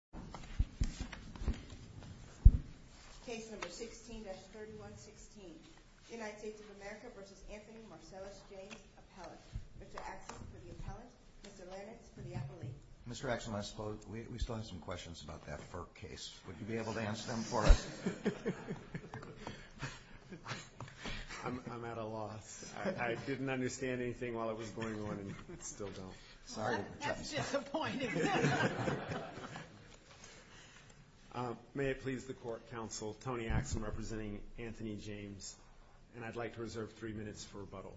Appellate, Mr. Axsom for the Appellate, Mr. Lannix for the Appellate. Mr. Axsom, I suppose we still have some questions about that FERC case. Would you be able to answer them for us? I'm at a loss. I didn't understand anything while it was going on and still don't. That's disappointing. May it please the Court, Counsel, Tony Axsom representing Anthony James, and I'd like to reserve three minutes for rebuttal.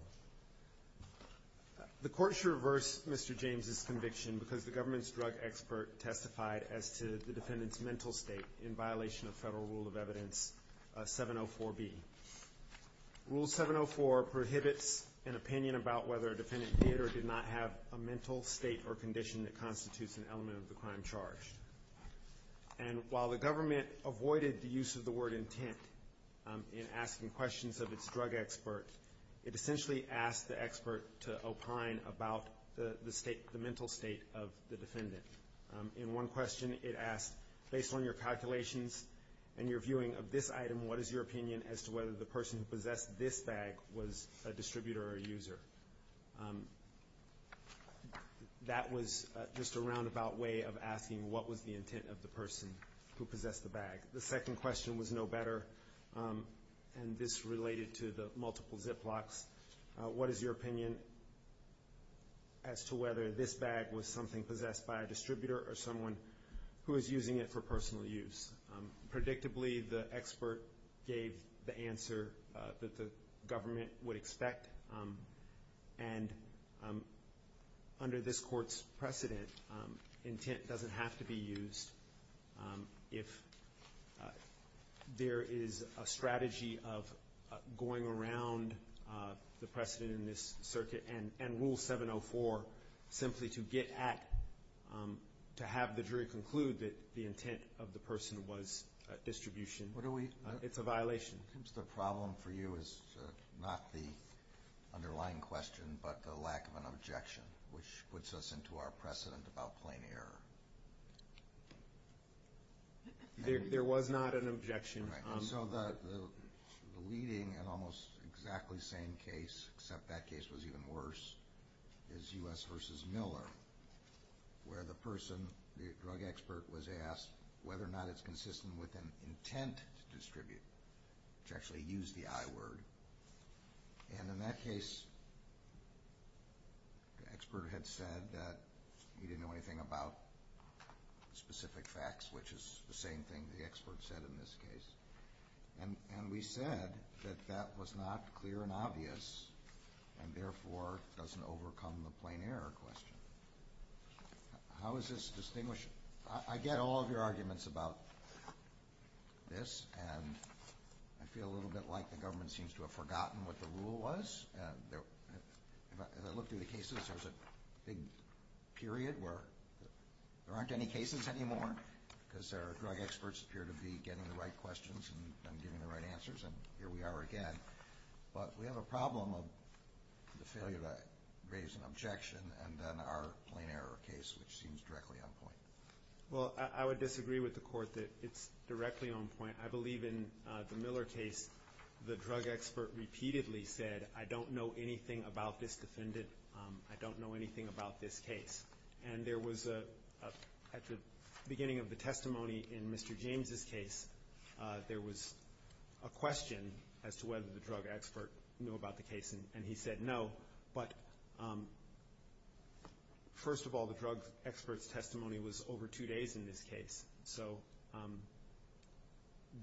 The Court should reverse Mr. James' conviction because the government's drug expert testified as to the defendant's mental state in violation of Federal Rule of Evidence 704B. Rule 704 prohibits an opinion about whether a defendant did or did not have a mental state or condition that constitutes an element of the crime charged. And while the government avoided the use of the word intent in asking questions of its drug expert, it essentially asked the expert to opine about the mental state of the defendant. In one question, it asked, based on your calculations and your viewing of this item, what is your opinion as to whether the person who possessed this bag was a distributor or a user? That was just a roundabout way of asking what was the intent of the person who possessed the bag. The second question was no better, and this related to the multiple ziplocks. What is your opinion as to whether this bag was something possessed by a distributor or someone who was using it for personal use? Predictably, the expert gave the answer that the government would expect, and under this Court's precedent, intent doesn't have to be used. If there is a strategy of going around the precedent in this circuit and Rule 704 simply to have the jury conclude that the intent of the person was distribution, it's a violation. The problem for you is not the underlying question but the lack of an objection, which puts us into our precedent about plain error. There was not an objection. The leading and almost exactly same case, except that case was even worse, is U.S. v. Miller, where the person, the drug expert, was asked whether or not it's consistent with an intent to distribute, which actually used the I word. In that case, the expert had said that he didn't know anything about specific facts, which is the same thing the expert said in this case, and we said that that was not clear and obvious and therefore doesn't overcome the plain error question. How is this distinguished? I get all of your arguments about this, and I feel a little bit like the government seems to have forgotten what the rule was. As I look through the cases, there's a big period where there aren't any cases anymore because our drug experts appear to be getting the right questions and giving the right answers, and here we are again. But we have a problem of the failure to raise an objection and then our plain error case, which seems directly on point. Well, I would disagree with the Court that it's directly on point. I believe in the Miller case the drug expert repeatedly said, I don't know anything about this defendant, I don't know anything about this case. And there was, at the beginning of the testimony in Mr. James' case, there was a question as to whether the drug expert knew about the case, and he said no. But first of all, the drug expert's testimony was over two days in this case. So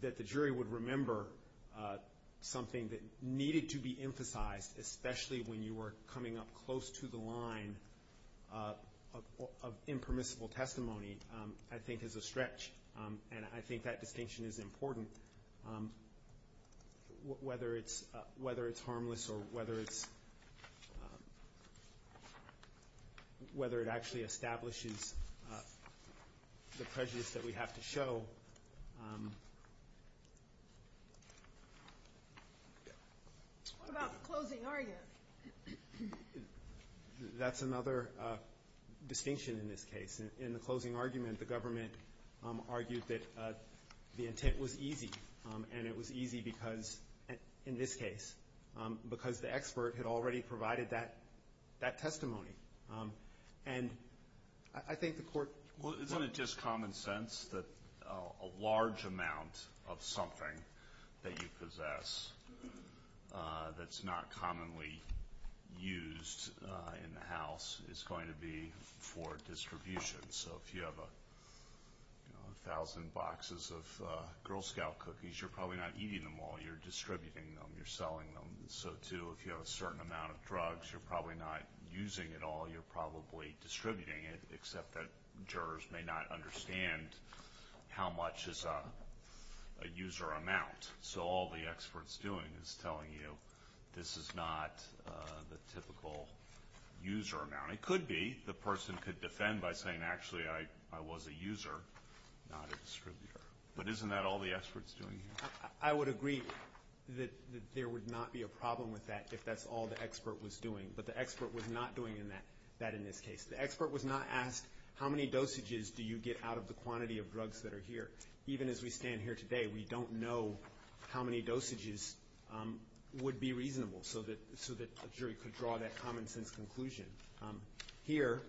that the jury would remember something that needed to be emphasized, especially when you were coming up close to the line of impermissible testimony, I think is a stretch. And I think that distinction is important, whether it's harmless or whether it actually establishes the prejudice that we have to show. What about the closing argument? That's another distinction in this case. In the closing argument, the government argued that the intent was easy. And it was easy because, in this case, because the expert had already provided that testimony. And I think the Court was right. Isn't it just common sense that a large amount of something that you possess that's not commonly used in the house is going to be for distribution? So if you have 1,000 boxes of Girl Scout cookies, you're probably not eating them all. You're distributing them. You're selling them. So, too, if you have a certain amount of drugs, you're probably not using it all. You're probably distributing it, except that jurors may not understand how much is a user amount. So all the expert's doing is telling you this is not the typical user amount. It could be the person could defend by saying, actually, I was a user, not a distributor. But isn't that all the expert's doing here? I would agree that there would not be a problem with that if that's all the expert was doing. But the expert was not doing that in this case. The expert was not asked, how many dosages do you get out of the quantity of drugs that are here? Even as we stand here today, we don't know how many dosages would be reasonable so that a jury could draw that common-sense conclusion. Here,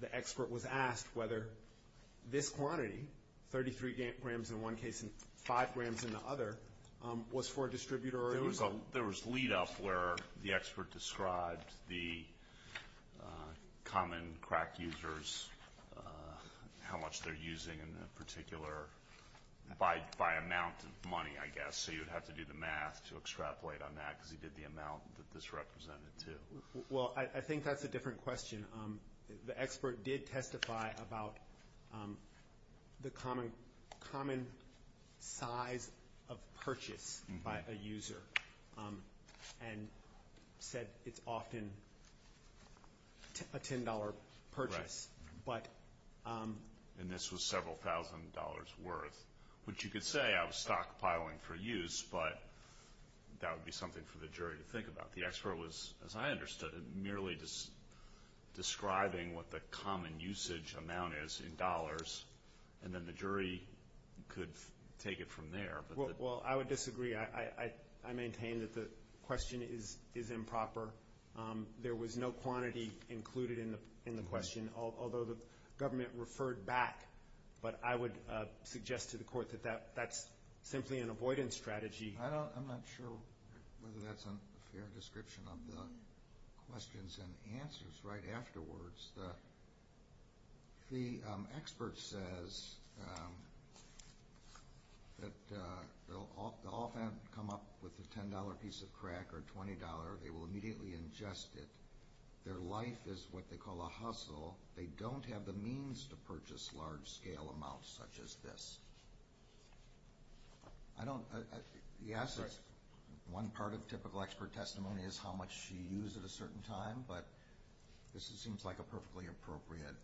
the expert was asked whether this quantity, 33 grams in one case and 5 grams in the other, There was lead-up where the expert described the common crack users, how much they're using in particular, by amount of money, I guess, so you'd have to do the math to extrapolate on that because he did the amount that this represented, too. Well, I think that's a different question. The expert did testify about the common size of purchase by a user and said it's often a $10 purchase. And this was several thousand dollars worth, which you could say I was stockpiling for use, but that would be something for the jury to think about. The expert was, as I understood it, merely describing what the common usage amount is in dollars, and then the jury could take it from there. Well, I would disagree. I maintain that the question is improper. There was no quantity included in the question, although the government referred back. But I would suggest to the Court that that's simply an avoidance strategy. I'm not sure whether that's a fair description of the questions and answers right afterwards. The expert says that they'll often come up with a $10 piece of crack or $20. They will immediately ingest it. Their life is what they call a hustle. They don't have the means to purchase large-scale amounts such as this. Yes, one part of typical expert testimony is how much you use at a certain time, but this seems like a perfectly appropriate.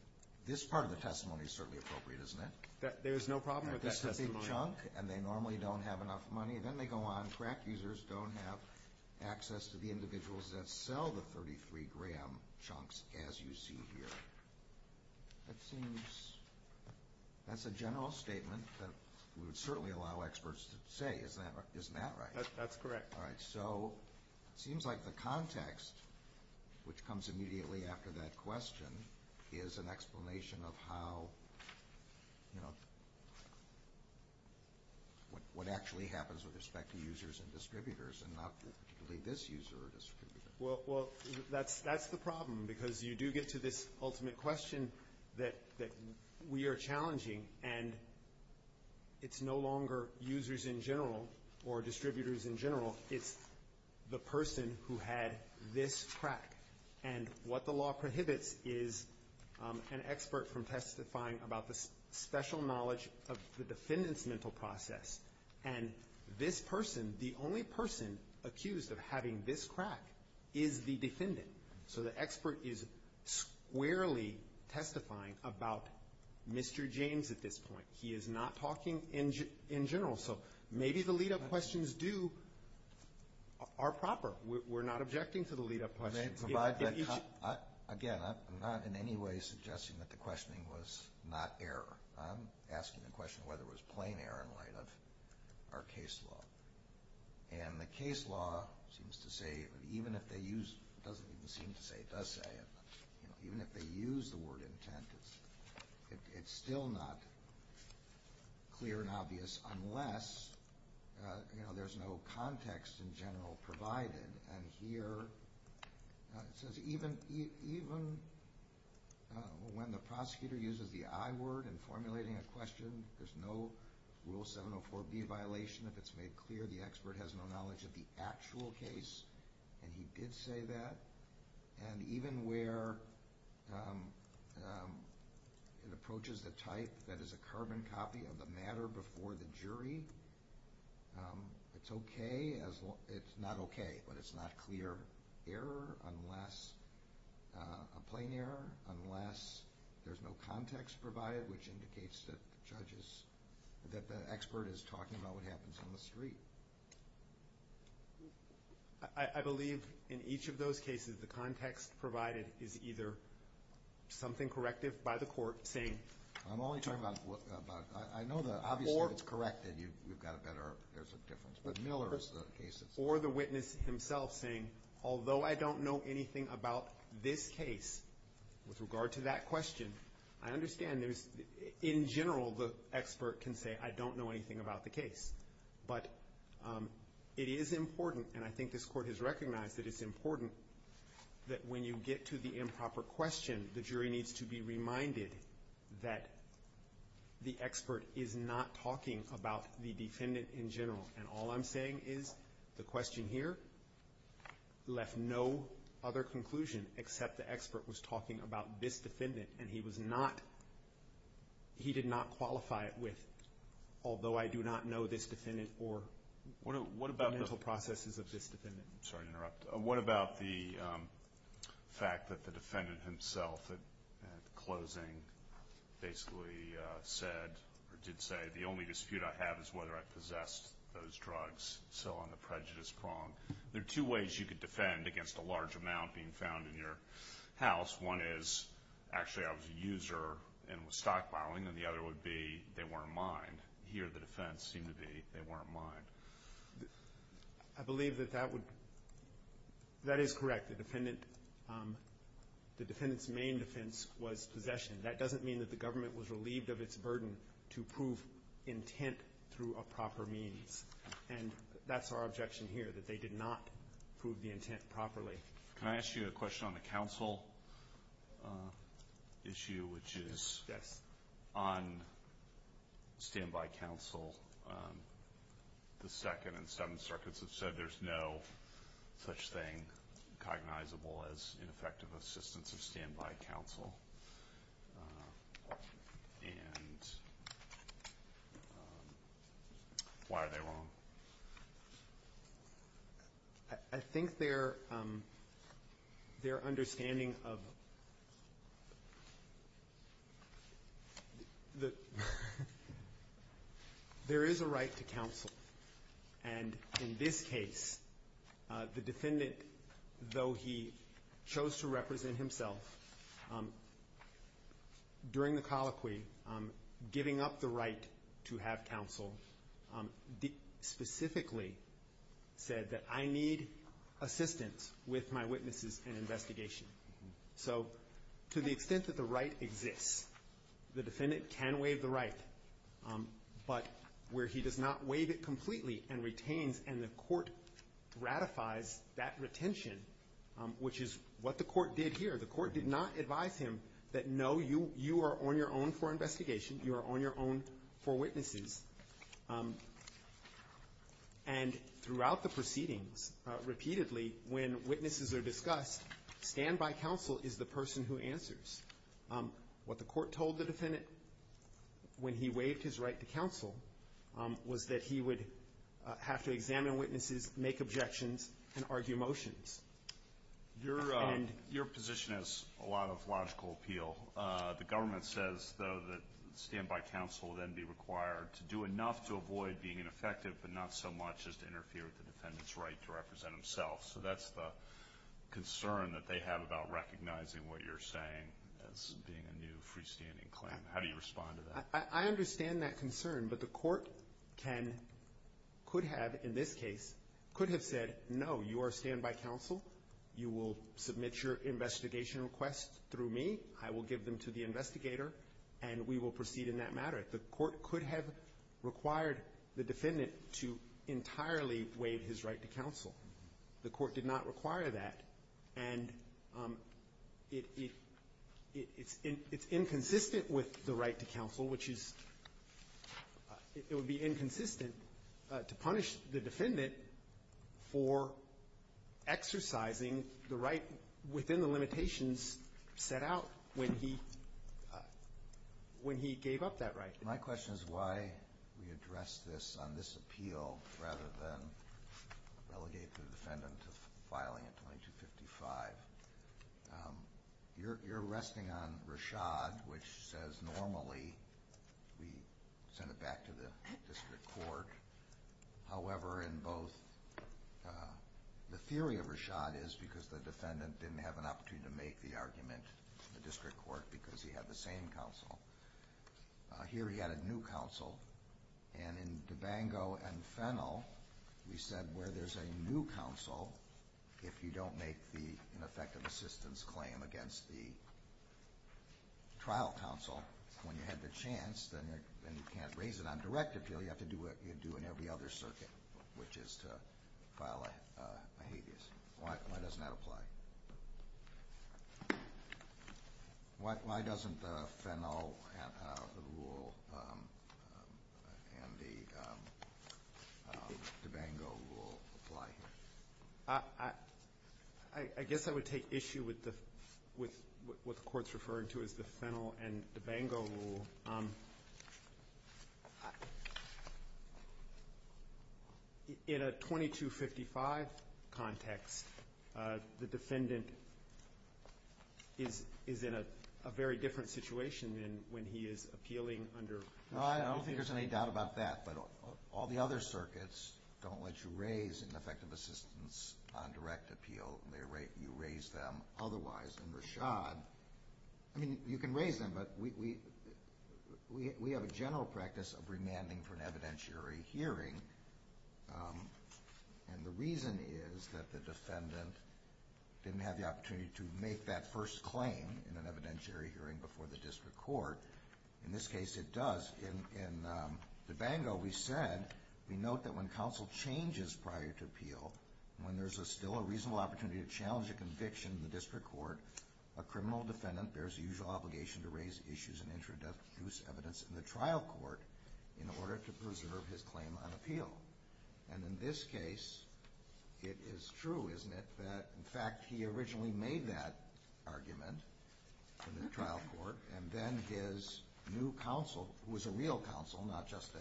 This part of the testimony is certainly appropriate, isn't it? There's no problem with that testimony. This is a big chunk, and they normally don't have enough money. Then they go on. Crack users don't have access to the individuals that sell the 33-gram chunks as you see here. That's a general statement that we would certainly allow experts to say. Isn't that right? That's correct. All right, so it seems like the context, which comes immediately after that question, is an explanation of what actually happens with respect to users and distributors and not this user or distributor. Well, that's the problem because you do get to this ultimate question that we are challenging, and it's no longer users in general or distributors in general. It's the person who had this crack, and what the law prohibits is an expert from testifying about the special knowledge of the defendant's mental process, and this person, the only person accused of having this crack is the defendant. So the expert is squarely testifying about Mr. James at this point. He is not talking in general. So maybe the lead-up questions are proper. We're not objecting to the lead-up questions. Again, I'm not in any way suggesting that the questioning was not error. I'm asking the question whether it was plain error in light of our case law, and the case law seems to say, even if they use the word intent, it's still not clear and obvious unless there's no context in general provided, and here it says even when the prosecutor uses the I word in formulating a question, there's no Rule 704B violation if it's made clear the expert has no knowledge of the actual case, and he did say that, and even where it approaches the type that is a carbon copy of the matter before the jury, it's not okay, but it's not clear error unless a plain error, unless there's no context provided, which indicates that the expert is talking about what happens on the street. I believe in each of those cases the context provided is either something corrective by the court saying I'm only talking about, I know that obviously it's correct that you've got a better, there's a difference, but Miller is the case that's. Or the witness himself saying, although I don't know anything about this case with regard to that question, I understand there's, in general, the expert can say I don't know anything about the case, but it is important, and I think this Court has recognized that it's important, that when you get to the improper question, the jury needs to be reminded that the expert is not talking about the defendant in general, and all I'm saying is the question here left no other conclusion except the expert was talking about this defendant, and he was not, he did not qualify it with, although I do not know this defendant or the mental processes of this defendant. I'm sorry to interrupt. What about the fact that the defendant himself at closing basically said, or did say, the only dispute I have is whether I possessed those drugs, so on the prejudice prong. There are two ways you could defend against a large amount being found in your house. One is actually I was a user and was stockpiling, and the other would be they weren't mine. Here the defense seemed to be they weren't mine. I believe that that would, that is correct. The defendant's main defense was possession. That doesn't mean that the government was relieved of its burden to prove intent through a proper means, and that's our objection here, that they did not prove the intent properly. Can I ask you a question on the counsel issue, which is on standby counsel, the Second and Seventh Circuits have said there's no such thing cognizable as ineffective assistance or standby counsel, and why are they wrong? I think their understanding of the, there is a right to counsel, and in this case the defendant, though he chose to represent himself during the colloquy, giving up the right to have counsel, specifically said that I need assistance with my witnesses and investigation. So to the extent that the right exists, the defendant can waive the right, but where he does not waive it completely and retains and the court ratifies that retention, which is what the court did here. The court did not advise him that no, you are on your own for investigation. You are on your own for witnesses. And throughout the proceedings, repeatedly, when witnesses are discussed, standby counsel is the person who answers. What the court told the defendant when he waived his right to counsel was that he would have to examine witnesses, make objections, and argue motions. Your position has a lot of logical appeal. The government says, though, that standby counsel would then be required to do enough to avoid being ineffective but not so much as to interfere with the defendant's right to represent himself. So that's the concern that they have about recognizing what you're saying as being a new freestanding claim. How do you respond to that? I understand that concern, but the court can, could have, in this case, could have said, no, you are standby counsel. You will submit your investigation request through me. I will give them to the investigator, and we will proceed in that matter. The court could have required the defendant to entirely waive his right to counsel. The court did not require that, and it's inconsistent with the right to counsel, which is, it would be inconsistent to punish the defendant for exercising the right within the limitations set out when he, when he gave up that right. My question is why we address this on this appeal rather than relegate the defendant to filing at 2255. You're, you're resting on Rashad, which says normally we send it back to the district court. However, in both, the theory of Rashad is because the defendant didn't have an opportunity to make the argument in the district court because he had the same counsel. Here he had a new counsel, and in DeBango and Fennell, we said where there's a new counsel, if you don't make the ineffective assistance claim against the trial counsel when you had the chance, then you can't raise it on direct appeal. You have to do what you do in every other circuit, which is to file a habeas. Why doesn't that apply? Why doesn't the Fennell rule and the DeBango rule apply? I guess I would take issue with what the Court's referring to as the Fennell and DeBango rule. In a 2255 context, the defendant is in a very different situation than when he is appealing under Rashad. Well, I don't think there's any doubt about that. But all the other circuits don't let you raise ineffective assistance on direct appeal. You raise them otherwise. I mean, you can raise them, but we have a general practice of remanding for an evidentiary hearing, and the reason is that the defendant didn't have the opportunity to make that first claim in an evidentiary hearing before the district court. In this case, it does. In DeBango, we said we note that when counsel changes prior to appeal, when there's still a reasonable opportunity to challenge a conviction in the district court, a criminal defendant bears the usual obligation to raise issues and introduce evidence in the trial court in order to preserve his claim on appeal. And in this case, it is true, isn't it, that, in fact, he originally made that argument in the trial court, and then his new counsel, who is a real counsel, not just a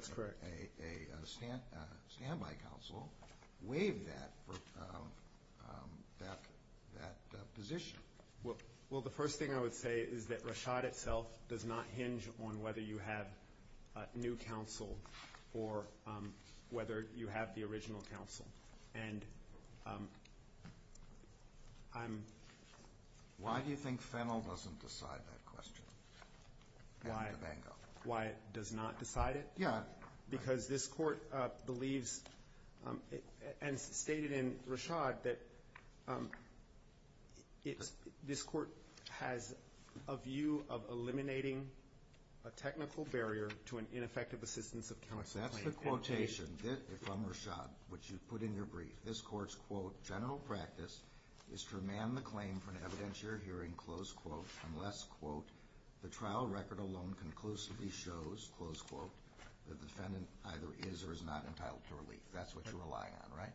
standby counsel, waived that position? Well, the first thing I would say is that Rashad itself does not hinge on whether you have a new counsel or whether you have the original counsel. And I'm ‑‑ Why do you think Fennell doesn't decide that question in DeBango? Why it does not decide it? Yeah. Because this court believes and stated in Rashad that this court has a view of eliminating a technical barrier to an ineffective assistance of counsel claim. So that's the quotation from Rashad, which you put in your brief. This court's, quote, general practice is to remand the claim for an evidentiary hearing, close quote, unless, quote, the trial record alone conclusively shows, close quote, that the defendant either is or is not entitled to relief. That's what you rely on, right?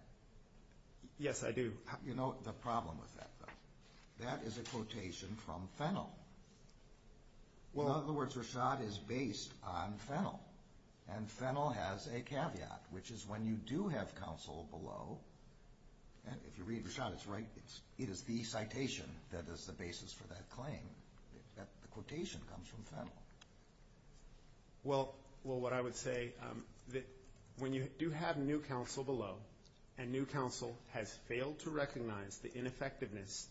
Yes, I do. You know, the problem with that, though, that is a quotation from Fennell. Well, in other words, Rashad is based on Fennell, and Fennell has a caveat, which is when you do have counsel below, and if you read Rashad, it's right, it is the citation that is the basis for that claim. The quotation comes from Fennell. Well, what I would say, when you do have new counsel below, and new counsel has failed to recognize the ineffectiveness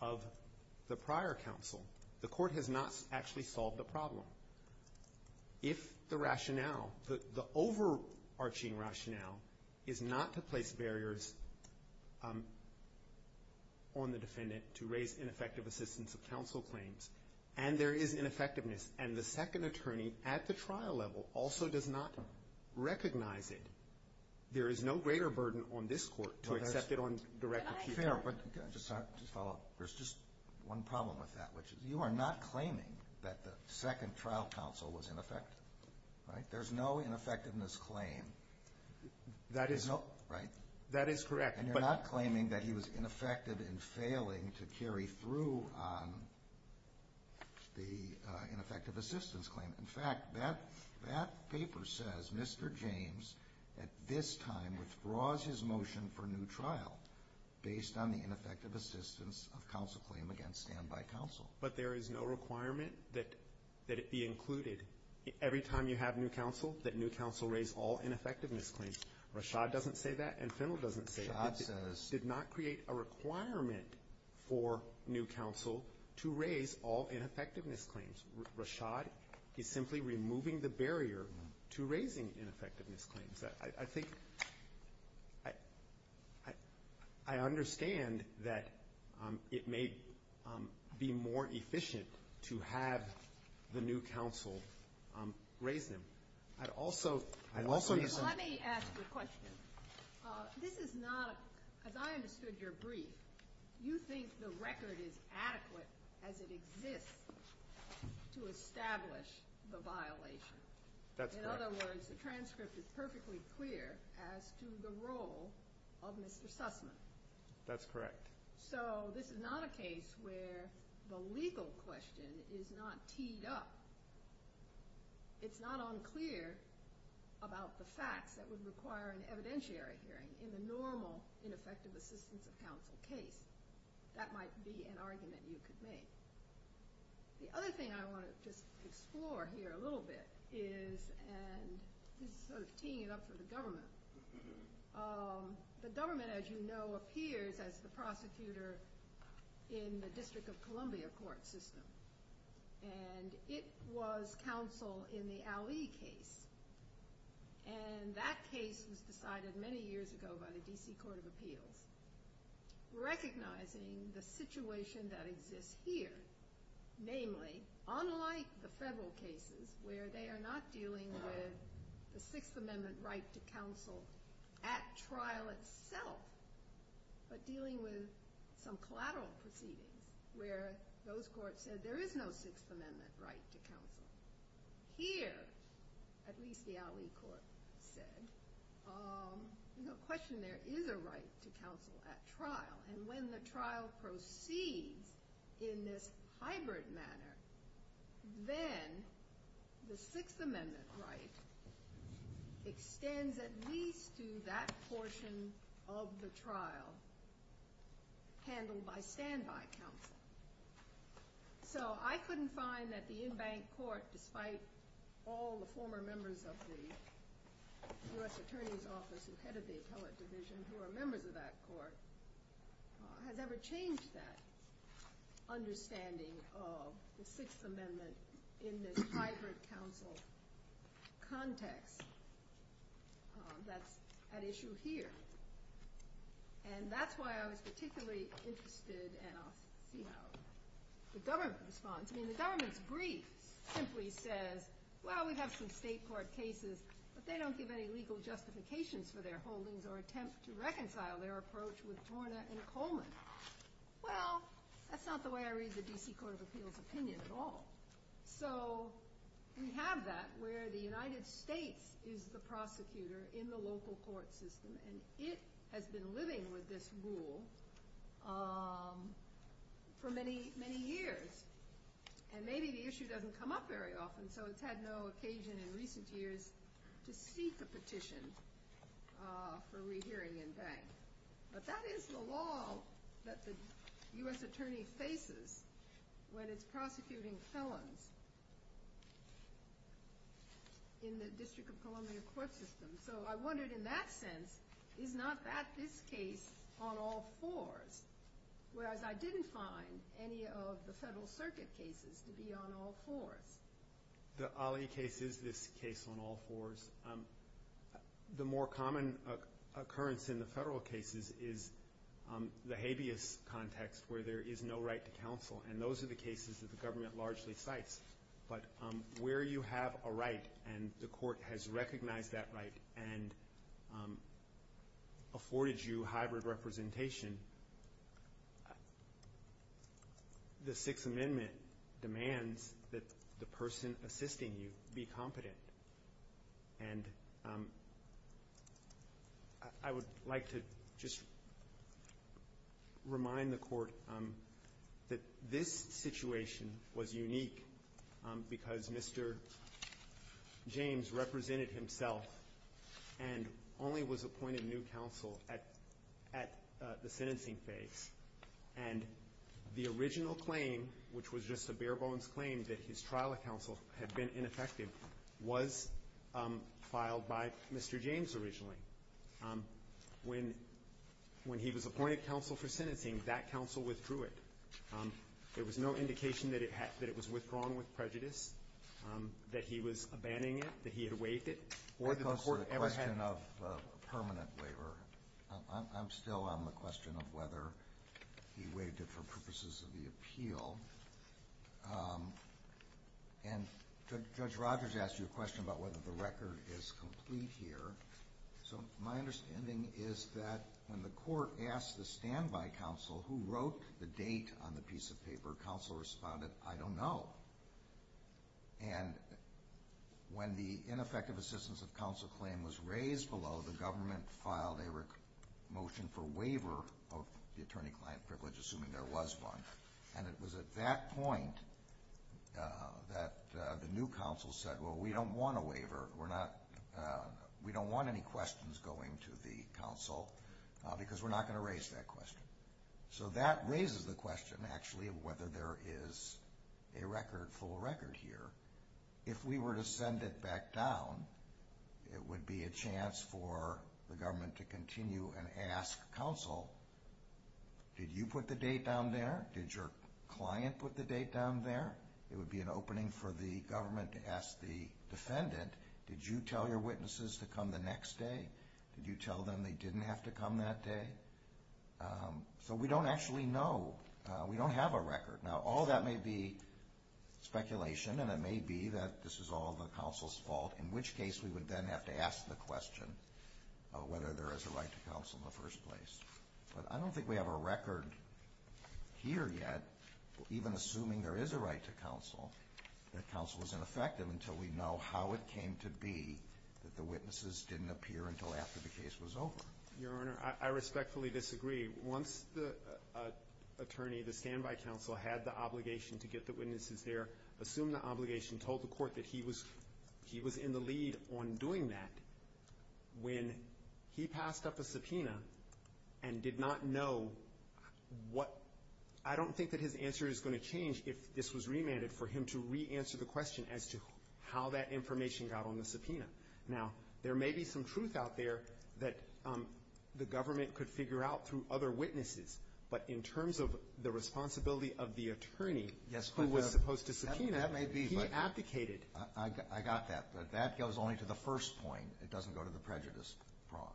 of the prior counsel, the court has not actually solved the problem. If the rationale, the overarching rationale is not to place barriers on the defendant to raise ineffective assistance of counsel claims, and there is ineffectiveness, and the second attorney at the trial level also does not recognize it, there is no greater burden on this court to accept it on direct appeal. Fair, but can I just follow up? There's just one problem with that, which is you are not claiming that the second trial counsel was ineffective, right? There's no ineffectiveness claim. That is correct. And you're not claiming that he was ineffective in failing to carry through on the ineffective assistance claim. In fact, that paper says Mr. James at this time withdraws his motion for new trial based on the ineffective assistance of counsel claim against standby counsel. But there is no requirement that it be included. Every time you have new counsel, that new counsel raise all ineffectiveness claims. Rashad doesn't say that, and Fennell doesn't say it. Rashad says. It did not create a requirement for new counsel to raise all ineffectiveness claims. Rashad is simply removing the barrier to raising ineffectiveness claims. I think I understand that it may be more efficient to have the new counsel raise them. I'd also understand. Let me ask you a question. This is not, as I understood your brief, you think the record is adequate as it exists to establish the violation. That's correct. In other words, the transcript is perfectly clear as to the role of Mr. Sussman. That's correct. So this is not a case where the legal question is not teed up. It's not unclear about the facts that would require an evidentiary hearing in the normal ineffective assistance of counsel case. That might be an argument you could make. The other thing I want to just explore here a little bit is, and this is sort of teeing it up for the government. The government, as you know, appears as the prosecutor in the District of Columbia court system. It was counsel in the Ali case, and that case was decided many years ago by the D.C. Court of Appeals. Recognizing the situation that exists here, namely, unlike the federal cases where they are not dealing with the Sixth Amendment right to counsel at trial itself, but dealing with some collateral proceedings where those courts said there is no Sixth Amendment right to counsel. Here, at least the Ali court said, no question there is a right to counsel at trial, and when the trial proceeds in this hybrid manner, then the Sixth Amendment right extends at least to that portion of the trial handled by standby counsel. So I couldn't find that the in-bank court, despite all the former members of the U.S. Attorney's Office who headed the appellate division who are members of that court, has ever changed that understanding of the Sixth Amendment in this hybrid counsel context that's at issue here. And that's why I was particularly interested, and I'll see how the government responds. I mean, the government's brief simply says, well, we have some state court cases, but they don't give any legal justifications for their holdings or attempt to reconcile their approach with Torna and Coleman. Well, that's not the way I read the D.C. Court of Appeals opinion at all. So we have that where the United States is the prosecutor in the local court system, and it has been living with this rule for many, many years. And maybe the issue doesn't come up very often, so it's had no occasion in recent years to seek a petition for rehearing in-bank. But that is the law that the U.S. Attorney faces when it's prosecuting felons in the District of Columbia court system. So I wondered in that sense, is not that this case on all fours? Whereas I didn't find any of the Federal Circuit cases to be on all fours. The Ali case is this case on all fours. The more common occurrence in the Federal cases is the habeas context where there is no right to counsel, and those are the cases that the government largely cites. But where you have a right and the court has recognized that right and afforded you hybrid representation, the Sixth Amendment demands that the person assisting you be competent. And I would like to just remind the Court that this situation was unique because Mr. James represented himself and only was appointed new counsel at the sentencing phase. And the original claim, which was just a bare-bones claim that his trial of counsel had been ineffective, was filed by Mr. James originally. When he was appointed counsel for sentencing, that counsel withdrew it. There was no indication that it was withdrawn with prejudice, that he was abandoning it, that he had waived it, or that the Court ever had it. I'm still on the question of whether he waived it for purposes of the appeal. And Judge Rogers asked you a question about whether the record is complete here. So my understanding is that when the Court asked the standby counsel who wrote the date on the piece of paper, counsel responded, I don't know. And when the ineffective assistance of counsel claim was raised below, the government filed a motion for waiver of the attorney-client privilege, assuming there was one. And it was at that point that the new counsel said, well, we don't want a waiver. We don't want any questions going to the counsel because we're not going to raise that question. So that raises the question, actually, of whether there is a full record here. If we were to send it back down, it would be a chance for the government to continue and ask counsel, did you put the date down there? Did your client put the date down there? It would be an opening for the government to ask the defendant, did you tell your witnesses to come the next day? Did you tell them they didn't have to come that day? So we don't actually know. We don't have a record. Now, all that may be speculation, and it may be that this is all the counsel's fault, in which case we would then have to ask the question of whether there is a right to counsel in the first place. But I don't think we have a record here yet, even assuming there is a right to counsel, that counsel was ineffective until we know how it came to be that the witnesses didn't appear until after the case was over. Your Honor, I respectfully disagree. Once the attorney, the standby counsel, had the obligation to get the witnesses there, assumed the obligation, told the court that he was in the lead on doing that, when he passed up a subpoena and did not know what — I don't think that his answer is going to change if this was remanded for him to re-answer the question as to how that information got on the subpoena. Now, there may be some truth out there that the government could figure out through other witnesses, but in terms of the responsibility of the attorney who was supposed to subpoena, he abdicated. I got that. But that goes only to the first point. It doesn't go to the prejudice prong.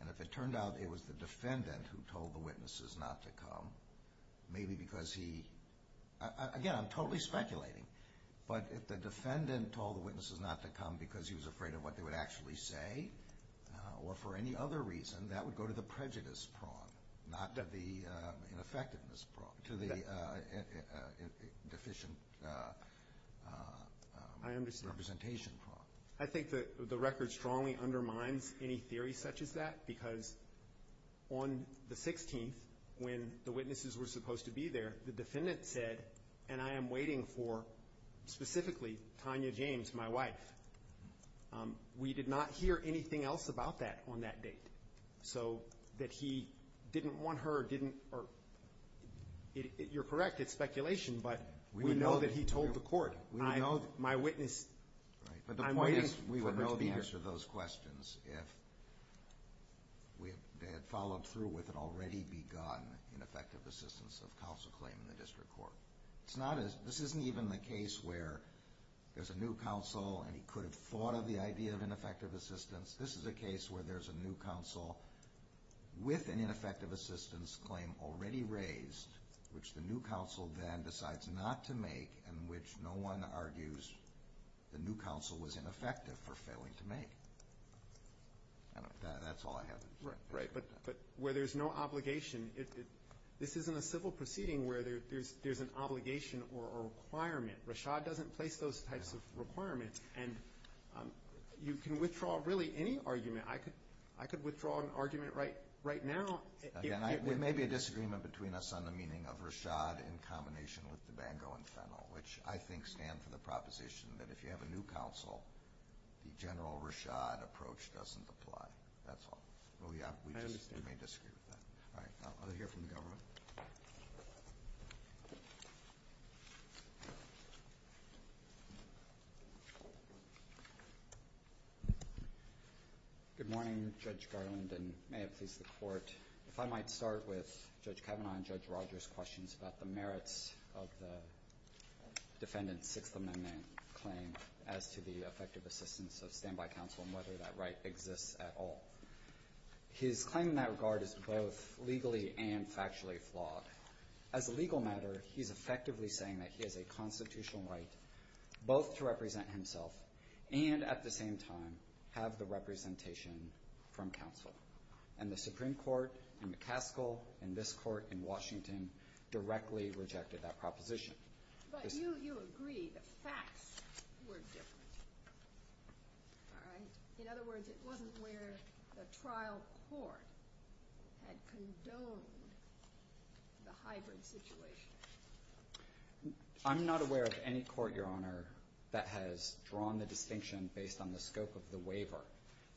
And if it turned out it was the defendant who told the witnesses not to come, maybe because he — again, I'm totally speculating. But if the defendant told the witnesses not to come because he was afraid of what they would actually say or for any other reason, that would go to the prejudice prong, not to the ineffectiveness prong, to the deficient representation prong. I think that the record strongly undermines any theory such as that because on the 16th, when the witnesses were supposed to be there, the defendant said, and I am waiting for specifically Tanya James, my wife. We did not hear anything else about that on that date. So that he didn't want her or didn't — you're correct, it's speculation, but we know that he told the court. My witness, I'm waiting for her to come here. But the point is we would know the answer to those questions if they had followed through with an already begun ineffective assistance of counsel claim in the district court. This isn't even the case where there's a new counsel and he could have thought of the idea of ineffective assistance. This is a case where there's a new counsel with an ineffective assistance claim already raised, which the new counsel then decides not to make and which no one argues the new counsel was ineffective for failing to make. That's all I have. Right. But where there's no obligation, this isn't a civil proceeding where there's an obligation or a requirement. Rashad doesn't place those types of requirements. And you can withdraw really any argument. I could withdraw an argument right now. There may be a disagreement between us on the meaning of Rashad in combination with DeBango and Fennell, which I think stand for the proposition that if you have a new counsel, the general Rashad approach doesn't apply. That's all. I understand. We may disagree with that. All right. I'll hear from the Governor. Good morning, Judge Garland, and may it please the Court. If I might start with Judge Kavanaugh and Judge Rogers' questions about the merits of the defendant's Sixth Amendment claim as to the effective assistance of standby counsel and whether that right exists at all. His claim in that regard is both legally and factually flawed. As a legal matter, he's effectively saying that he has a constitutional right both to represent himself and, at the same time, have the representation from counsel. And the Supreme Court in McCaskill and this Court in Washington directly rejected that proposition. But you agree that facts were different. All right. In other words, it wasn't where the trial court had condoned the hybrid situation. I'm not aware of any court, Your Honor, that has drawn the distinction based on the scope of the waiver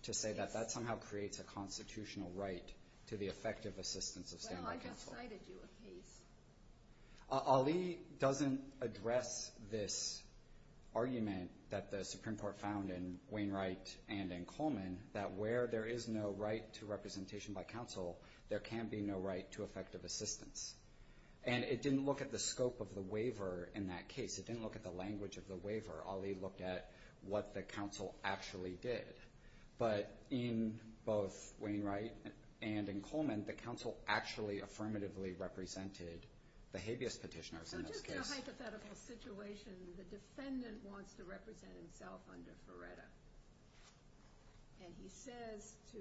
to say that that somehow creates a constitutional right to the effective assistance of standby counsel. Well, I just cited you a case. Ali doesn't address this argument that the Supreme Court found in Wainwright and in Coleman that where there is no right to representation by counsel, there can be no right to effective assistance. And it didn't look at the scope of the waiver in that case. It didn't look at the language of the waiver. Ali looked at what the counsel actually did. But in both Wainwright and in Coleman, the counsel actually affirmatively represented the habeas petitioners in this case. So just in a hypothetical situation, the defendant wants to represent himself under Ferretta. And he says to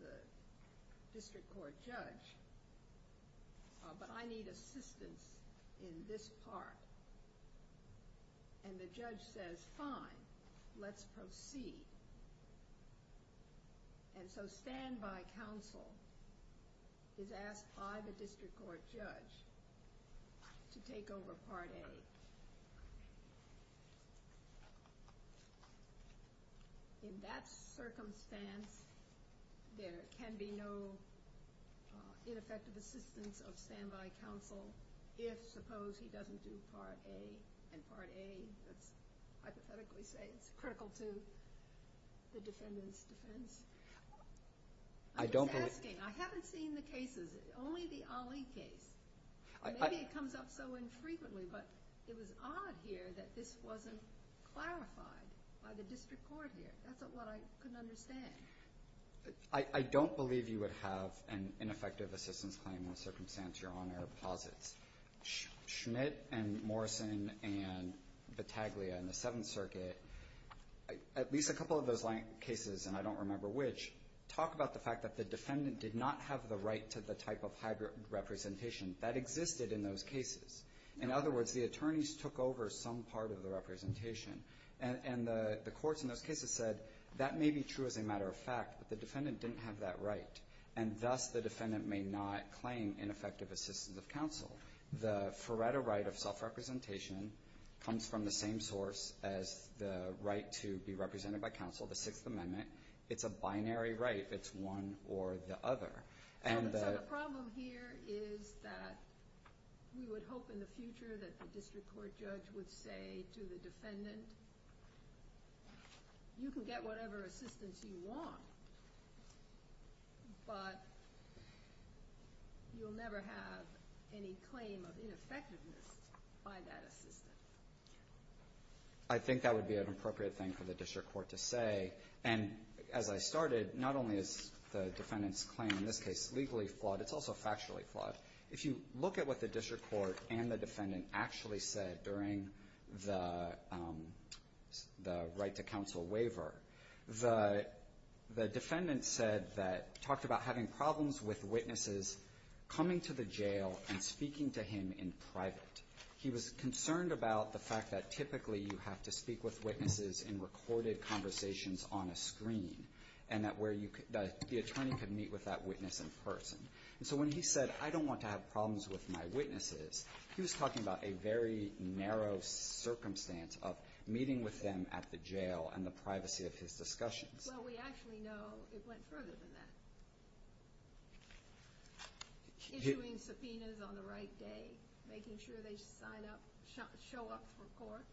the district court judge, but I need assistance in this part. And the judge says, fine, let's proceed. And so standby counsel is asked by the district court judge to take over Part A. In that circumstance, there can be no ineffective assistance of standby counsel if, suppose, he doesn't do Part A. And Part A, let's hypothetically say, is critical to the defendant's defense. I was asking. I haven't seen the cases, only the Ali case. Maybe it comes up so infrequently, but it was odd here that this wasn't clarified by the district court here. That's what I couldn't understand. I don't believe you would have an ineffective assistance claim in the circumstance Your Honor posits. Schmidt and Morrison and Battaglia in the Seventh Circuit, at least a couple of those cases, and I don't remember which, talk about the fact that the defendant did not have the right to the type of hybrid representation that existed in those cases. In other words, the attorneys took over some part of the representation. And the courts in those cases said that may be true as a matter of fact, but the defendant didn't have that right. And thus, the defendant may not claim ineffective assistance of counsel. The Feretta right of self-representation comes from the same source as the right to be represented by counsel, the Sixth Amendment. It's a binary right. It's one or the other. So the problem here is that we would hope in the future that the district court judge would say to the defendant, you can get whatever assistance you want, but you'll never have any claim of ineffectiveness by that assistance. I think that would be an appropriate thing for the district court to say. And as I started, not only is the defendant's claim in this case legally flawed, it's also factually flawed. If you look at what the district court and the defendant actually said during the right to counsel waiver, the defendant said that he talked about having problems with witnesses coming to the jail and speaking to him in private. He was concerned about the fact that typically you have to speak with witnesses in recorded conversations on a screen, and that the attorney could meet with that witness in person. So when he said, I don't want to have problems with my witnesses, he was talking about a very narrow circumstance of meeting with them at the jail and the privacy of his discussions. Well, we actually know it went further than that. Issuing subpoenas on the right day, making sure they sign up, show up for court.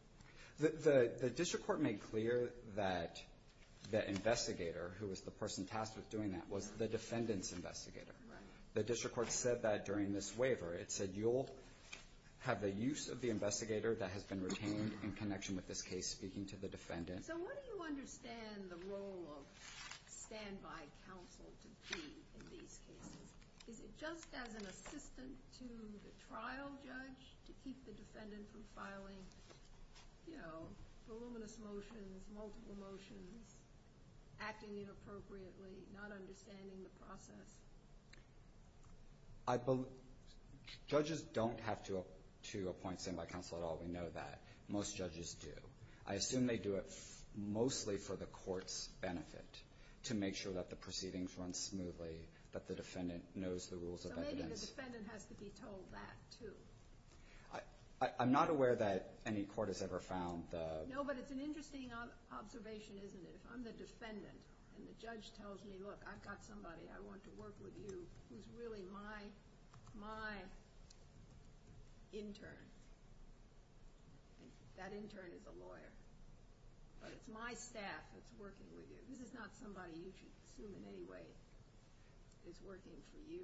The district court made clear that the investigator, who was the person tasked with doing that, was the defendant's investigator. The district court said that during this waiver. It said you'll have the use of the investigator that has been retained in connection with this case speaking to the defendant. So what do you understand the role of standby counsel to be in these cases? Is it just as an assistant to the trial judge to keep the defendant from filing, you know, voluminous motions, multiple motions, acting inappropriately, not understanding the process? Judges don't have to appoint standby counsel at all. We know that. Most judges do. I assume they do it mostly for the court's benefit, to make sure that the proceedings run smoothly, that the defendant knows the rules of evidence. So maybe the defendant has to be told that too. I'm not aware that any court has ever found the – No, but it's an interesting observation, isn't it? If I'm the defendant and the judge tells me, look, I've got somebody I want to work with you who's really my intern, that intern is a lawyer, but it's my staff that's working with you. This is not somebody you should assume in any way is working for you.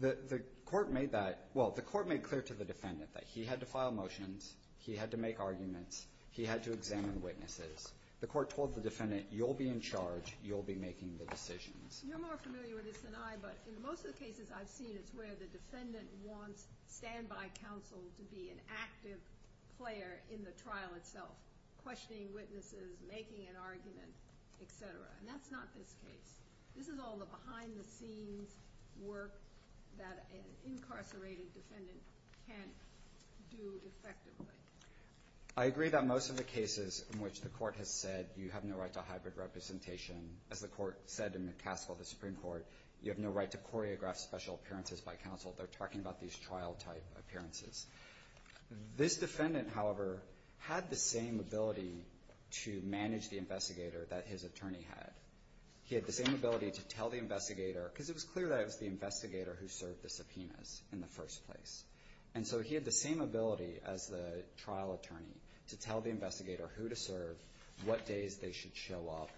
The court made that – well, the court made clear to the defendant that he had to file motions, he had to make arguments, he had to examine witnesses. The court told the defendant, you'll be in charge, you'll be making the decisions. You're more familiar with this than I, but in most of the cases I've seen, it's where the defendant wants standby counsel to be an active player in the trial itself, questioning witnesses, making an argument, et cetera. And that's not this case. This is all the behind-the-scenes work that an incarcerated defendant can't do effectively. I agree that most of the cases in which the court has said you have no right to hybrid representation, as the court said in McCaskill, the Supreme Court, you have no right to choreograph special appearances by counsel. They're talking about these trial-type appearances. This defendant, however, had the same ability to manage the investigator that his attorney had. He had the same ability to tell the investigator, because it was clear that it was the investigator who served the subpoenas in the first place. And so he had the same ability as the trial attorney to tell the investigator who to serve, what days they should show up,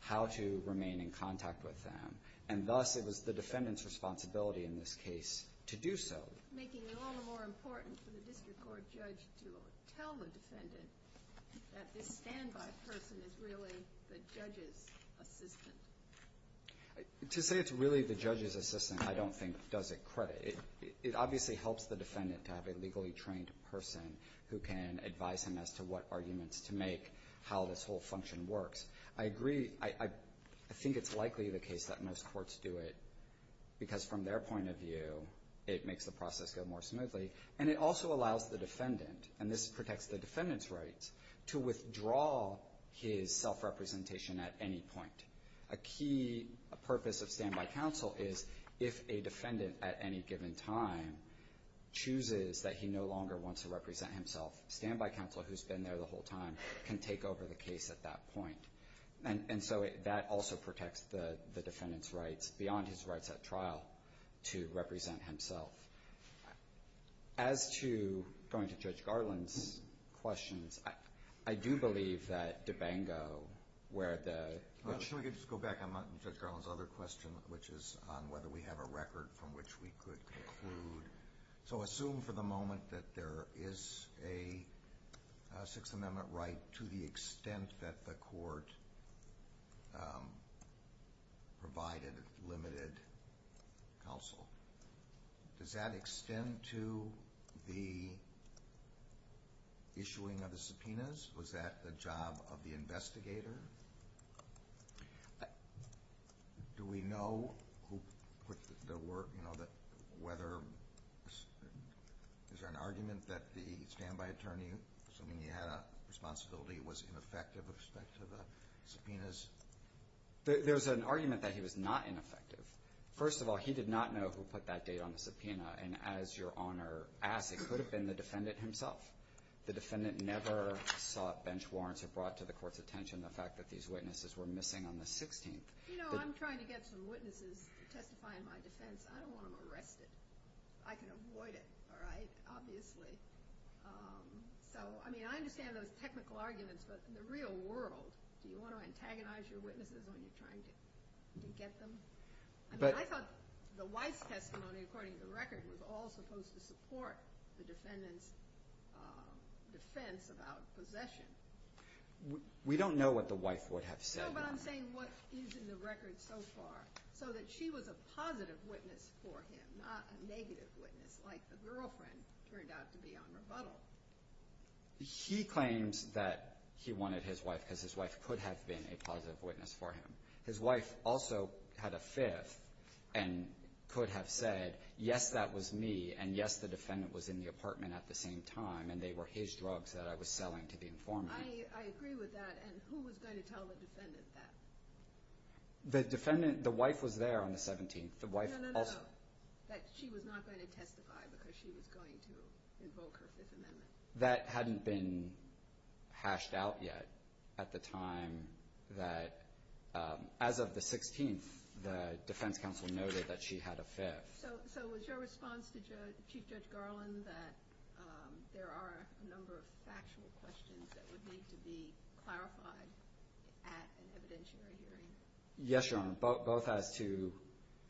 how to remain in contact with them. And thus it was the defendant's responsibility in this case to do so. Making it all the more important for the district court judge to tell the defendant that this standby person is really the judge's assistant. To say it's really the judge's assistant I don't think does it credit. It obviously helps the defendant to have a legally trained person who can advise him as to what arguments to make, how this whole function works. I agree. I think it's likely the case that most courts do it, because from their point of view it makes the process go more smoothly. And it also allows the defendant, and this protects the defendant's rights, to withdraw his self-representation at any point. A key purpose of standby counsel is if a defendant at any given time chooses that he no longer wants to represent himself, standby counsel who's been there the whole time can take over the case at that point. And so that also protects the defendant's rights beyond his rights at trial to represent himself. As to going to Judge Garland's questions, I do believe that DeBango, where the – Can we just go back on Judge Garland's other question, which is on whether we have a record from which we could conclude. So assume for the moment that there is a Sixth Amendment right to the extent that the court provided limited counsel. Does that extend to the issuing of the subpoenas? Was that the job of the investigator? Do we know who put the work, you know, whether – is there an argument that the standby attorney, assuming he had a responsibility, was ineffective with respect to the subpoenas? There's an argument that he was not ineffective. First of all, he did not know who put that date on the subpoena. And as Your Honor asked, it could have been the defendant himself. The defendant never sought bench warrants or brought to the court's attention the fact that these witnesses were missing on the 16th. You know, I'm trying to get some witnesses to testify in my defense. I don't want them arrested. I can avoid it, all right, obviously. So, I mean, I understand those technical arguments, but in the real world, do you want to antagonize your witnesses when you're trying to get them? I mean, I thought the Weiss testimony, according to the record, was all supposed to support the defendant's defense about possession. We don't know what the wife would have said. No, but I'm saying what is in the record so far, so that she was a positive witness for him, not a negative witness, like the girlfriend turned out to be on rebuttal. He claims that he wanted his wife because his wife could have been a positive witness for him. His wife also had a fifth and could have said, yes, that was me, and yes, the defendant was in the apartment at the same time, and they were his drugs that I was selling to the informant. I agree with that, and who was going to tell the defendant that? The defendant, the wife was there on the 17th. No, no, no, no, that she was not going to testify because she was going to invoke her Fifth Amendment. That hadn't been hashed out yet at the time that, as of the 16th, the defense counsel noted that she had a fifth. So was your response to Chief Judge Garland that there are a number of factual questions that would need to be clarified at an evidentiary hearing? Yes, Your Honor, both as to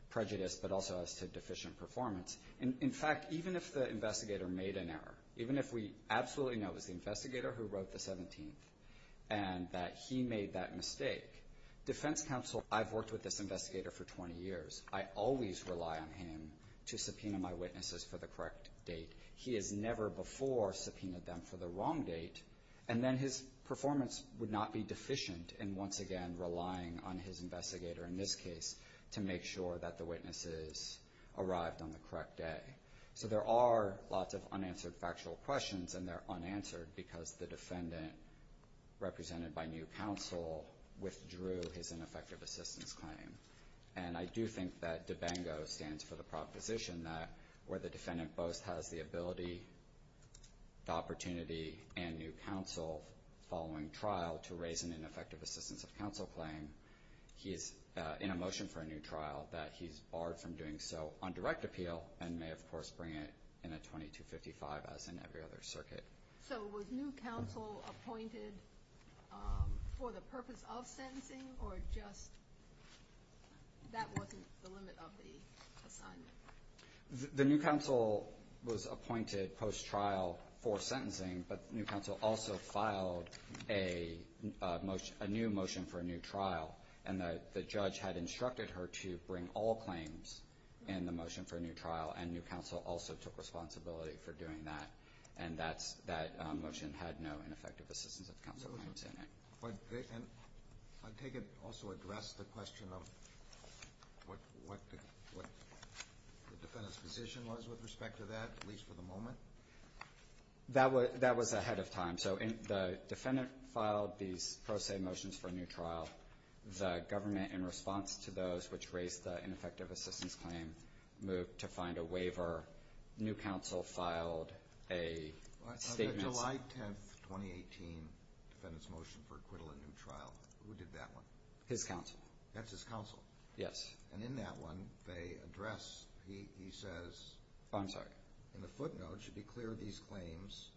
prejudice but also as to deficient performance. In fact, even if the investigator made an error, even if we absolutely know it was the investigator who wrote the 17th and that he made that mistake, defense counsel, I've worked with this investigator for 20 years. I always rely on him to subpoena my witnesses for the correct date. He has never before subpoenaed them for the wrong date, and then his performance would not be deficient in, once again, relying on his investigator, in this case, to make sure that the witnesses arrived on the correct day. So there are lots of unanswered factual questions, and they're unanswered because the defendant, represented by new counsel, withdrew his ineffective assistance claim. And I do think that DABANGO stands for the proposition that, where the defendant both has the ability, the opportunity, and new counsel following trial to raise an ineffective assistance of counsel claim, he's in a motion for a new trial that he's barred from doing so on direct appeal and may, of course, bring it in a 2255, as in every other circuit. So was new counsel appointed for the purpose of sentencing, or just that wasn't the limit of the assignment? The new counsel was appointed post-trial for sentencing, but new counsel also filed a new motion for a new trial, and the judge had instructed her to bring all claims in the motion for a new trial, and new counsel also took responsibility for doing that. And that motion had no ineffective assistance of counsel claims in it. And I take it also address the question of what the defendant's position was with respect to that, at least for the moment? That was ahead of time. So the defendant filed these pro se motions for a new trial. The government, in response to those which raised the ineffective assistance claim, moved to find a waiver. New counsel filed a statement. On the July 10, 2018, defendant's motion for acquittal in new trial, who did that one? His counsel. That's his counsel? Yes. And in that one, they address, he says, Oh, I'm sorry. In the footnote, it should be clear these claims,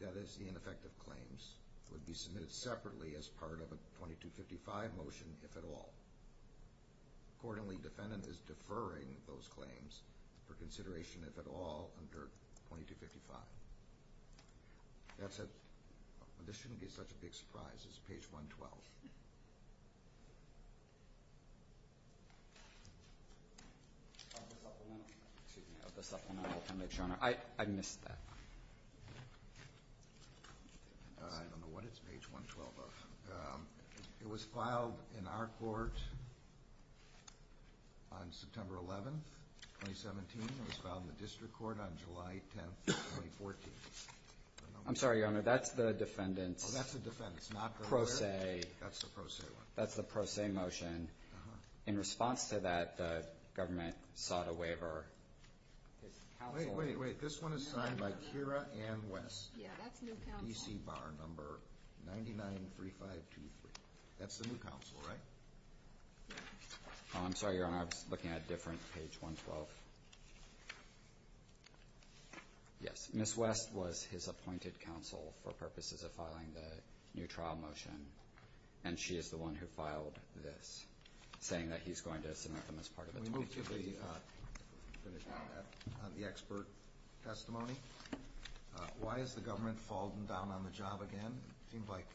that is, the ineffective claims, would be submitted separately as part of a 2255 motion, if at all. Accordingly, defendant is deferring those claims for consideration, if at all, under 2255. That's a, this shouldn't be such a big surprise. It's page 112. I missed that. I don't know what it's page 112 of. It was filed in our court on September 11, 2017. It was filed in the district court on July 10, 2014. I'm sorry, Your Honor. That's the defendant's pro se. That's the pro se one. That's the pro se motion. In response to that, the government sought a waiver. Wait, wait, wait. This one is signed by Keira Ann West. Yeah, that's new counsel. PC Bar number 993523. That's the new counsel, right? I'm sorry, Your Honor. I was looking at a different page, 112. Yes. Ms. West was his appointed counsel for purposes of filing the new trial motion, and she is the one who filed this, saying that he's going to submit them as part of the 2255. Can we move to the expert testimony? Why is the government falling down on the job again? It seemed like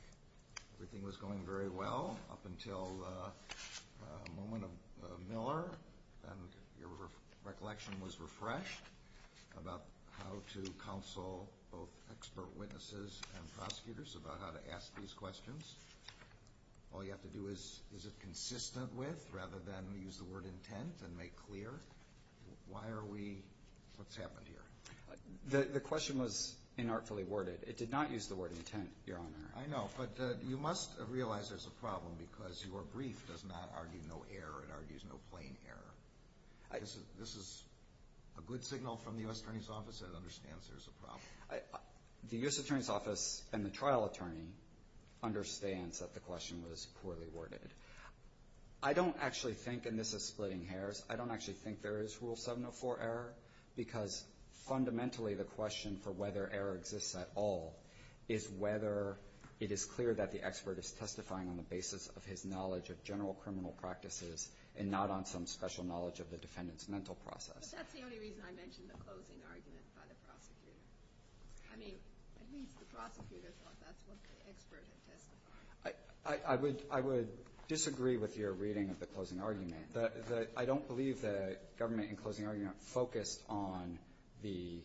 everything was going very well up until the moment of Miller, and your recollection was refreshed about how to counsel both expert witnesses and prosecutors about how to ask these questions. All you have to do is, is it consistent with, rather than use the word intent and make clear, why are we, what's happened here? The question was inartfully worded. It did not use the word intent, Your Honor. I know, but you must realize there's a problem because your brief does not argue no error. It argues no plain error. This is a good signal from the U.S. Attorney's Office that it understands there's a problem. The U.S. Attorney's Office and the trial attorney understands that the question was poorly worded. I don't actually think, and this is splitting hairs, I don't actually think there is Rule 704 error because fundamentally the question for whether error exists at all is whether it is clear that the expert is testifying on the basis of his knowledge of general criminal practices and not on some special knowledge of the defendant's mental process. But that's the only reason I mentioned the closing argument by the prosecutor. I mean, at least the prosecutor thought that's what the expert had testified. I would disagree with your reading of the closing argument. I don't believe the government in closing argument focused on the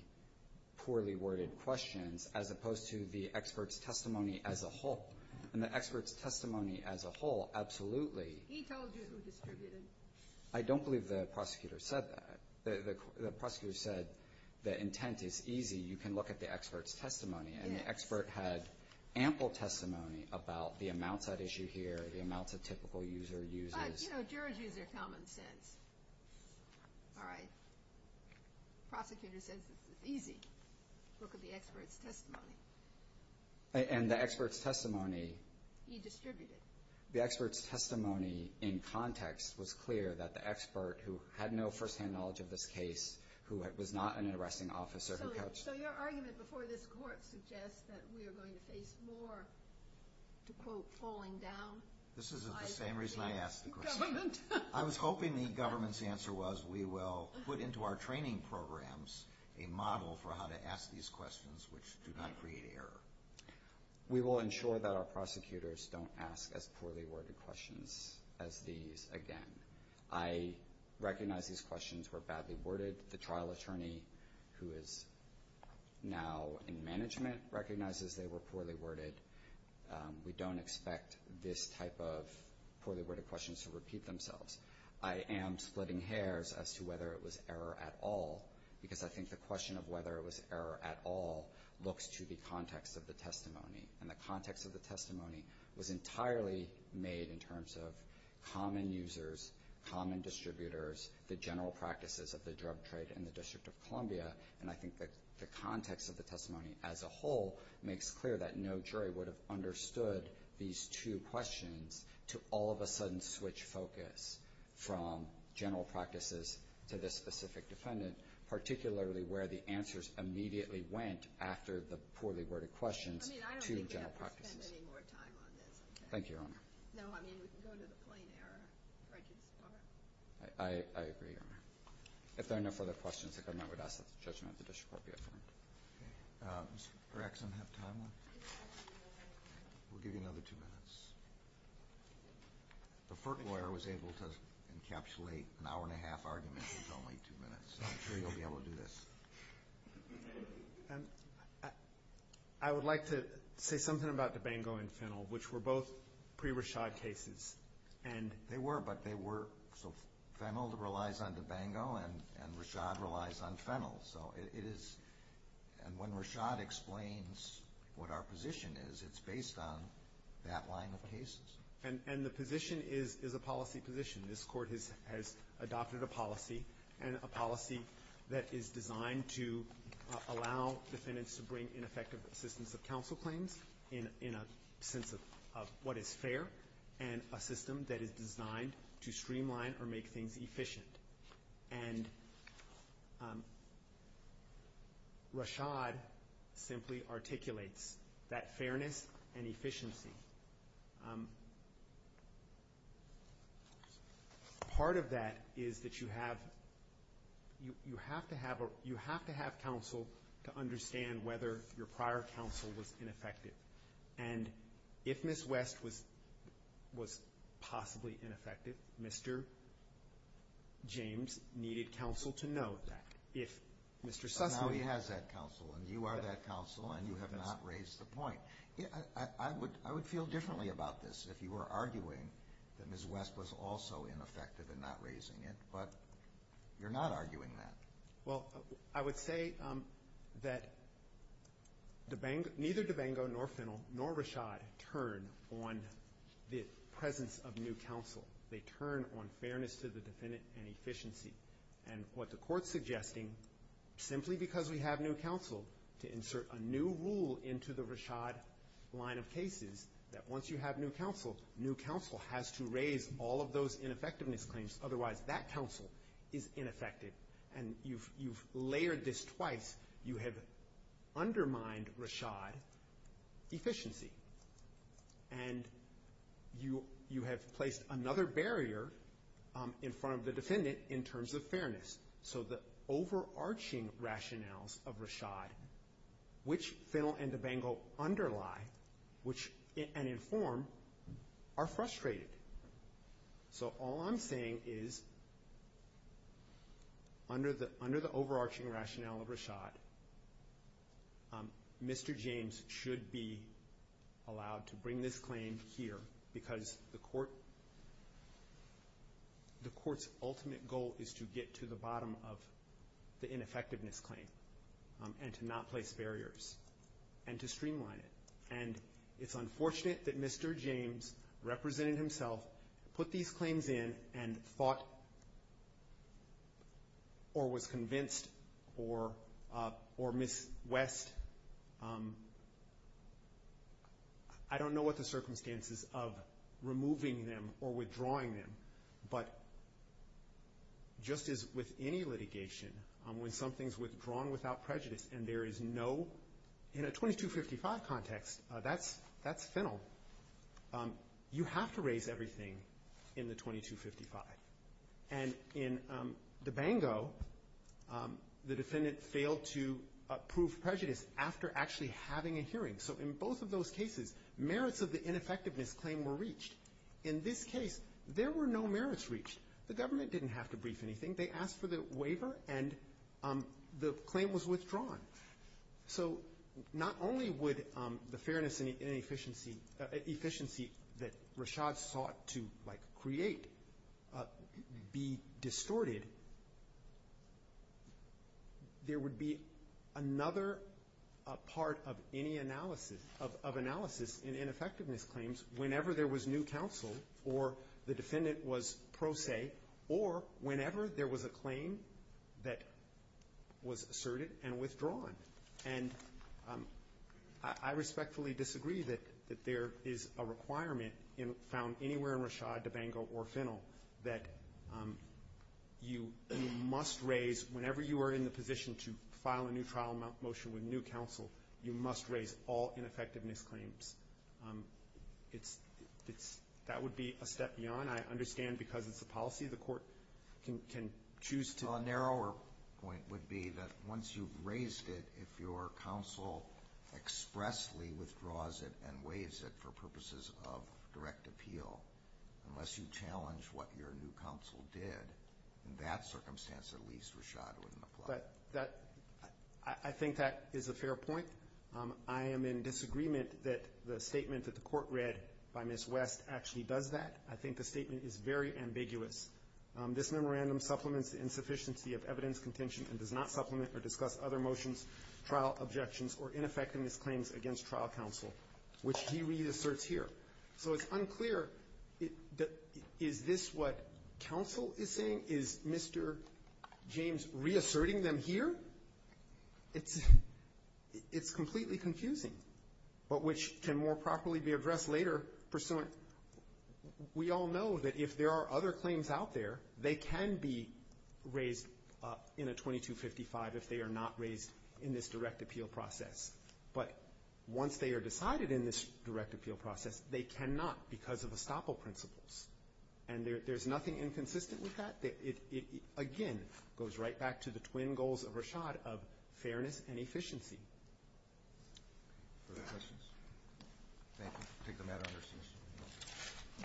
poorly worded questions as opposed to the expert's testimony as a whole. And the expert's testimony as a whole, absolutely. He told you who distributed. I don't believe the prosecutor said that. The prosecutor said the intent is easy. You can look at the expert's testimony. Yes. And the expert had ample testimony about the amounts at issue here, the amounts of typical user uses. But, you know, jurors use their common sense. All right. Prosecutor says it's easy. Look at the expert's testimony. And the expert's testimony. He distributed. The expert's testimony in context was clear that the expert who had no first-hand knowledge of this case, who was not an arresting officer. So your argument before this court suggests that we are going to face more, to quote, This is the same reason I asked the question. I was hoping the government's answer was we will put into our training programs a model for how to ask these questions which do not create error. We will ensure that our prosecutors don't ask as poorly worded questions as these again. I recognize these questions were badly worded. The trial attorney who is now in management recognizes they were poorly worded. We don't expect this type of poorly worded questions to repeat themselves. I am splitting hairs as to whether it was error at all because I think the question of whether it was error at all looks to the context of the testimony. And the context of the testimony was entirely made in terms of common users, common distributors, the general practices of the drug trade in the District of Columbia. And I think that the context of the testimony as a whole makes clear that no jury would have understood these two questions to all of a sudden switch focus from general practices to this specific defendant, particularly where the answers immediately went after the poorly worded questions to general practices. I don't think we have to spend any more time on this. Thank you, Your Honor. No, I mean, we can go to the plain error. I agree, Your Honor. If there are no further questions, the government would ask that the judgment of the District Court be affirmed. Does Mr. Perrekson have time left? We'll give you another two minutes. The Fert lawyer was able to encapsulate an hour and a half argument into only two minutes, so I'm sure you'll be able to do this. I would like to say something about Dabango and Fennell, which were both pre-Rashad cases. They were, but Fennell relies on Dabango and Rashad relies on Fennell. And when Rashad explains what our position is, it's based on that line of cases. And the position is a policy position. This Court has adopted a policy, and a policy that is designed to allow defendants to bring in effective assistance of counsel claims in a sense of what is fair and a system that is designed to streamline or make things efficient. And Rashad simply articulates that fairness and efficiency. Part of that is that you have to have counsel to understand whether your prior counsel was ineffective. And if Ms. West was possibly ineffective, Mr. James needed counsel to know that. But now he has that counsel, and you are that counsel, and you have not raised the point. I would feel differently about this if you were arguing that Ms. West was also ineffective in not raising it, but you're not arguing that. Well, I would say that neither Dabango nor Fennell nor Rashad turn on the presence of new counsel. They turn on fairness to the defendant and efficiency. And what the Court's suggesting, simply because we have new counsel, to insert a new rule into the Rashad line of cases that once you have new counsel, new counsel has to raise all of those ineffectiveness claims, otherwise that counsel is ineffective. And you've layered this twice. You have undermined Rashad efficiency. And you have placed another barrier in front of the defendant in terms of fairness. So the overarching rationales of Rashad, which Fennell and Dabango underlie and inform, are frustrated. So all I'm saying is, under the overarching rationale of Rashad, Mr. James should be allowed to bring this claim here, because the Court's ultimate goal is to get to the bottom of the ineffectiveness claim and to not place barriers and to streamline it. And it's unfortunate that Mr. James represented himself, put these claims in, and thought or was convinced or Ms. West, I don't know what the circumstances of removing them or withdrawing them, but just as with any litigation, when something's withdrawn without prejudice and there is no, in a 2255 context, that's Fennell, you have to raise everything in the 2255. And in Dabango, the defendant failed to prove prejudice after actually having a hearing. So in both of those cases, merits of the ineffectiveness claim were reached. In this case, there were no merits reached. The government didn't have to brief anything. They asked for the waiver, and the claim was withdrawn. So not only would the fairness and efficiency that Rashad sought to, like, create be distorted, there would be another part of any analysis of analysis in ineffectiveness claims whenever there was new counsel or the defendant was pro se or whenever there was a claim that was asserted and withdrawn. And I respectfully disagree that there is a requirement found anywhere in Rashad, Dabango, or Fennell that you must raise, whenever you are in the position to file a new trial motion with new counsel, you must raise all ineffectiveness claims. That would be a step beyond. I understand because it's a policy, the court can choose to. Well, a narrower point would be that once you've raised it, if your counsel expressly withdraws it and waives it for purposes of direct appeal, unless you challenge what your new counsel did, in that circumstance at least Rashad wouldn't apply. I think that is a fair point. I am in disagreement that the statement that the court read by Ms. West actually does that. I think the statement is very ambiguous. This memorandum supplements the insufficiency of evidence contention and does not supplement or discuss other motions, trial objections, or ineffectiveness claims against trial counsel, which he reasserts here. So it's unclear, is this what counsel is saying? Is Mr. James reasserting them here? It's completely confusing, but which can more properly be addressed later pursuant we all know that if there are other claims out there, they can be raised in a 2255 if they are not raised in this direct appeal process. But once they are decided in this direct appeal process, they cannot because of estoppel principles. And there is nothing inconsistent with that. It again goes right back to the twin goals of Rashad of fairness and efficiency. Thank you.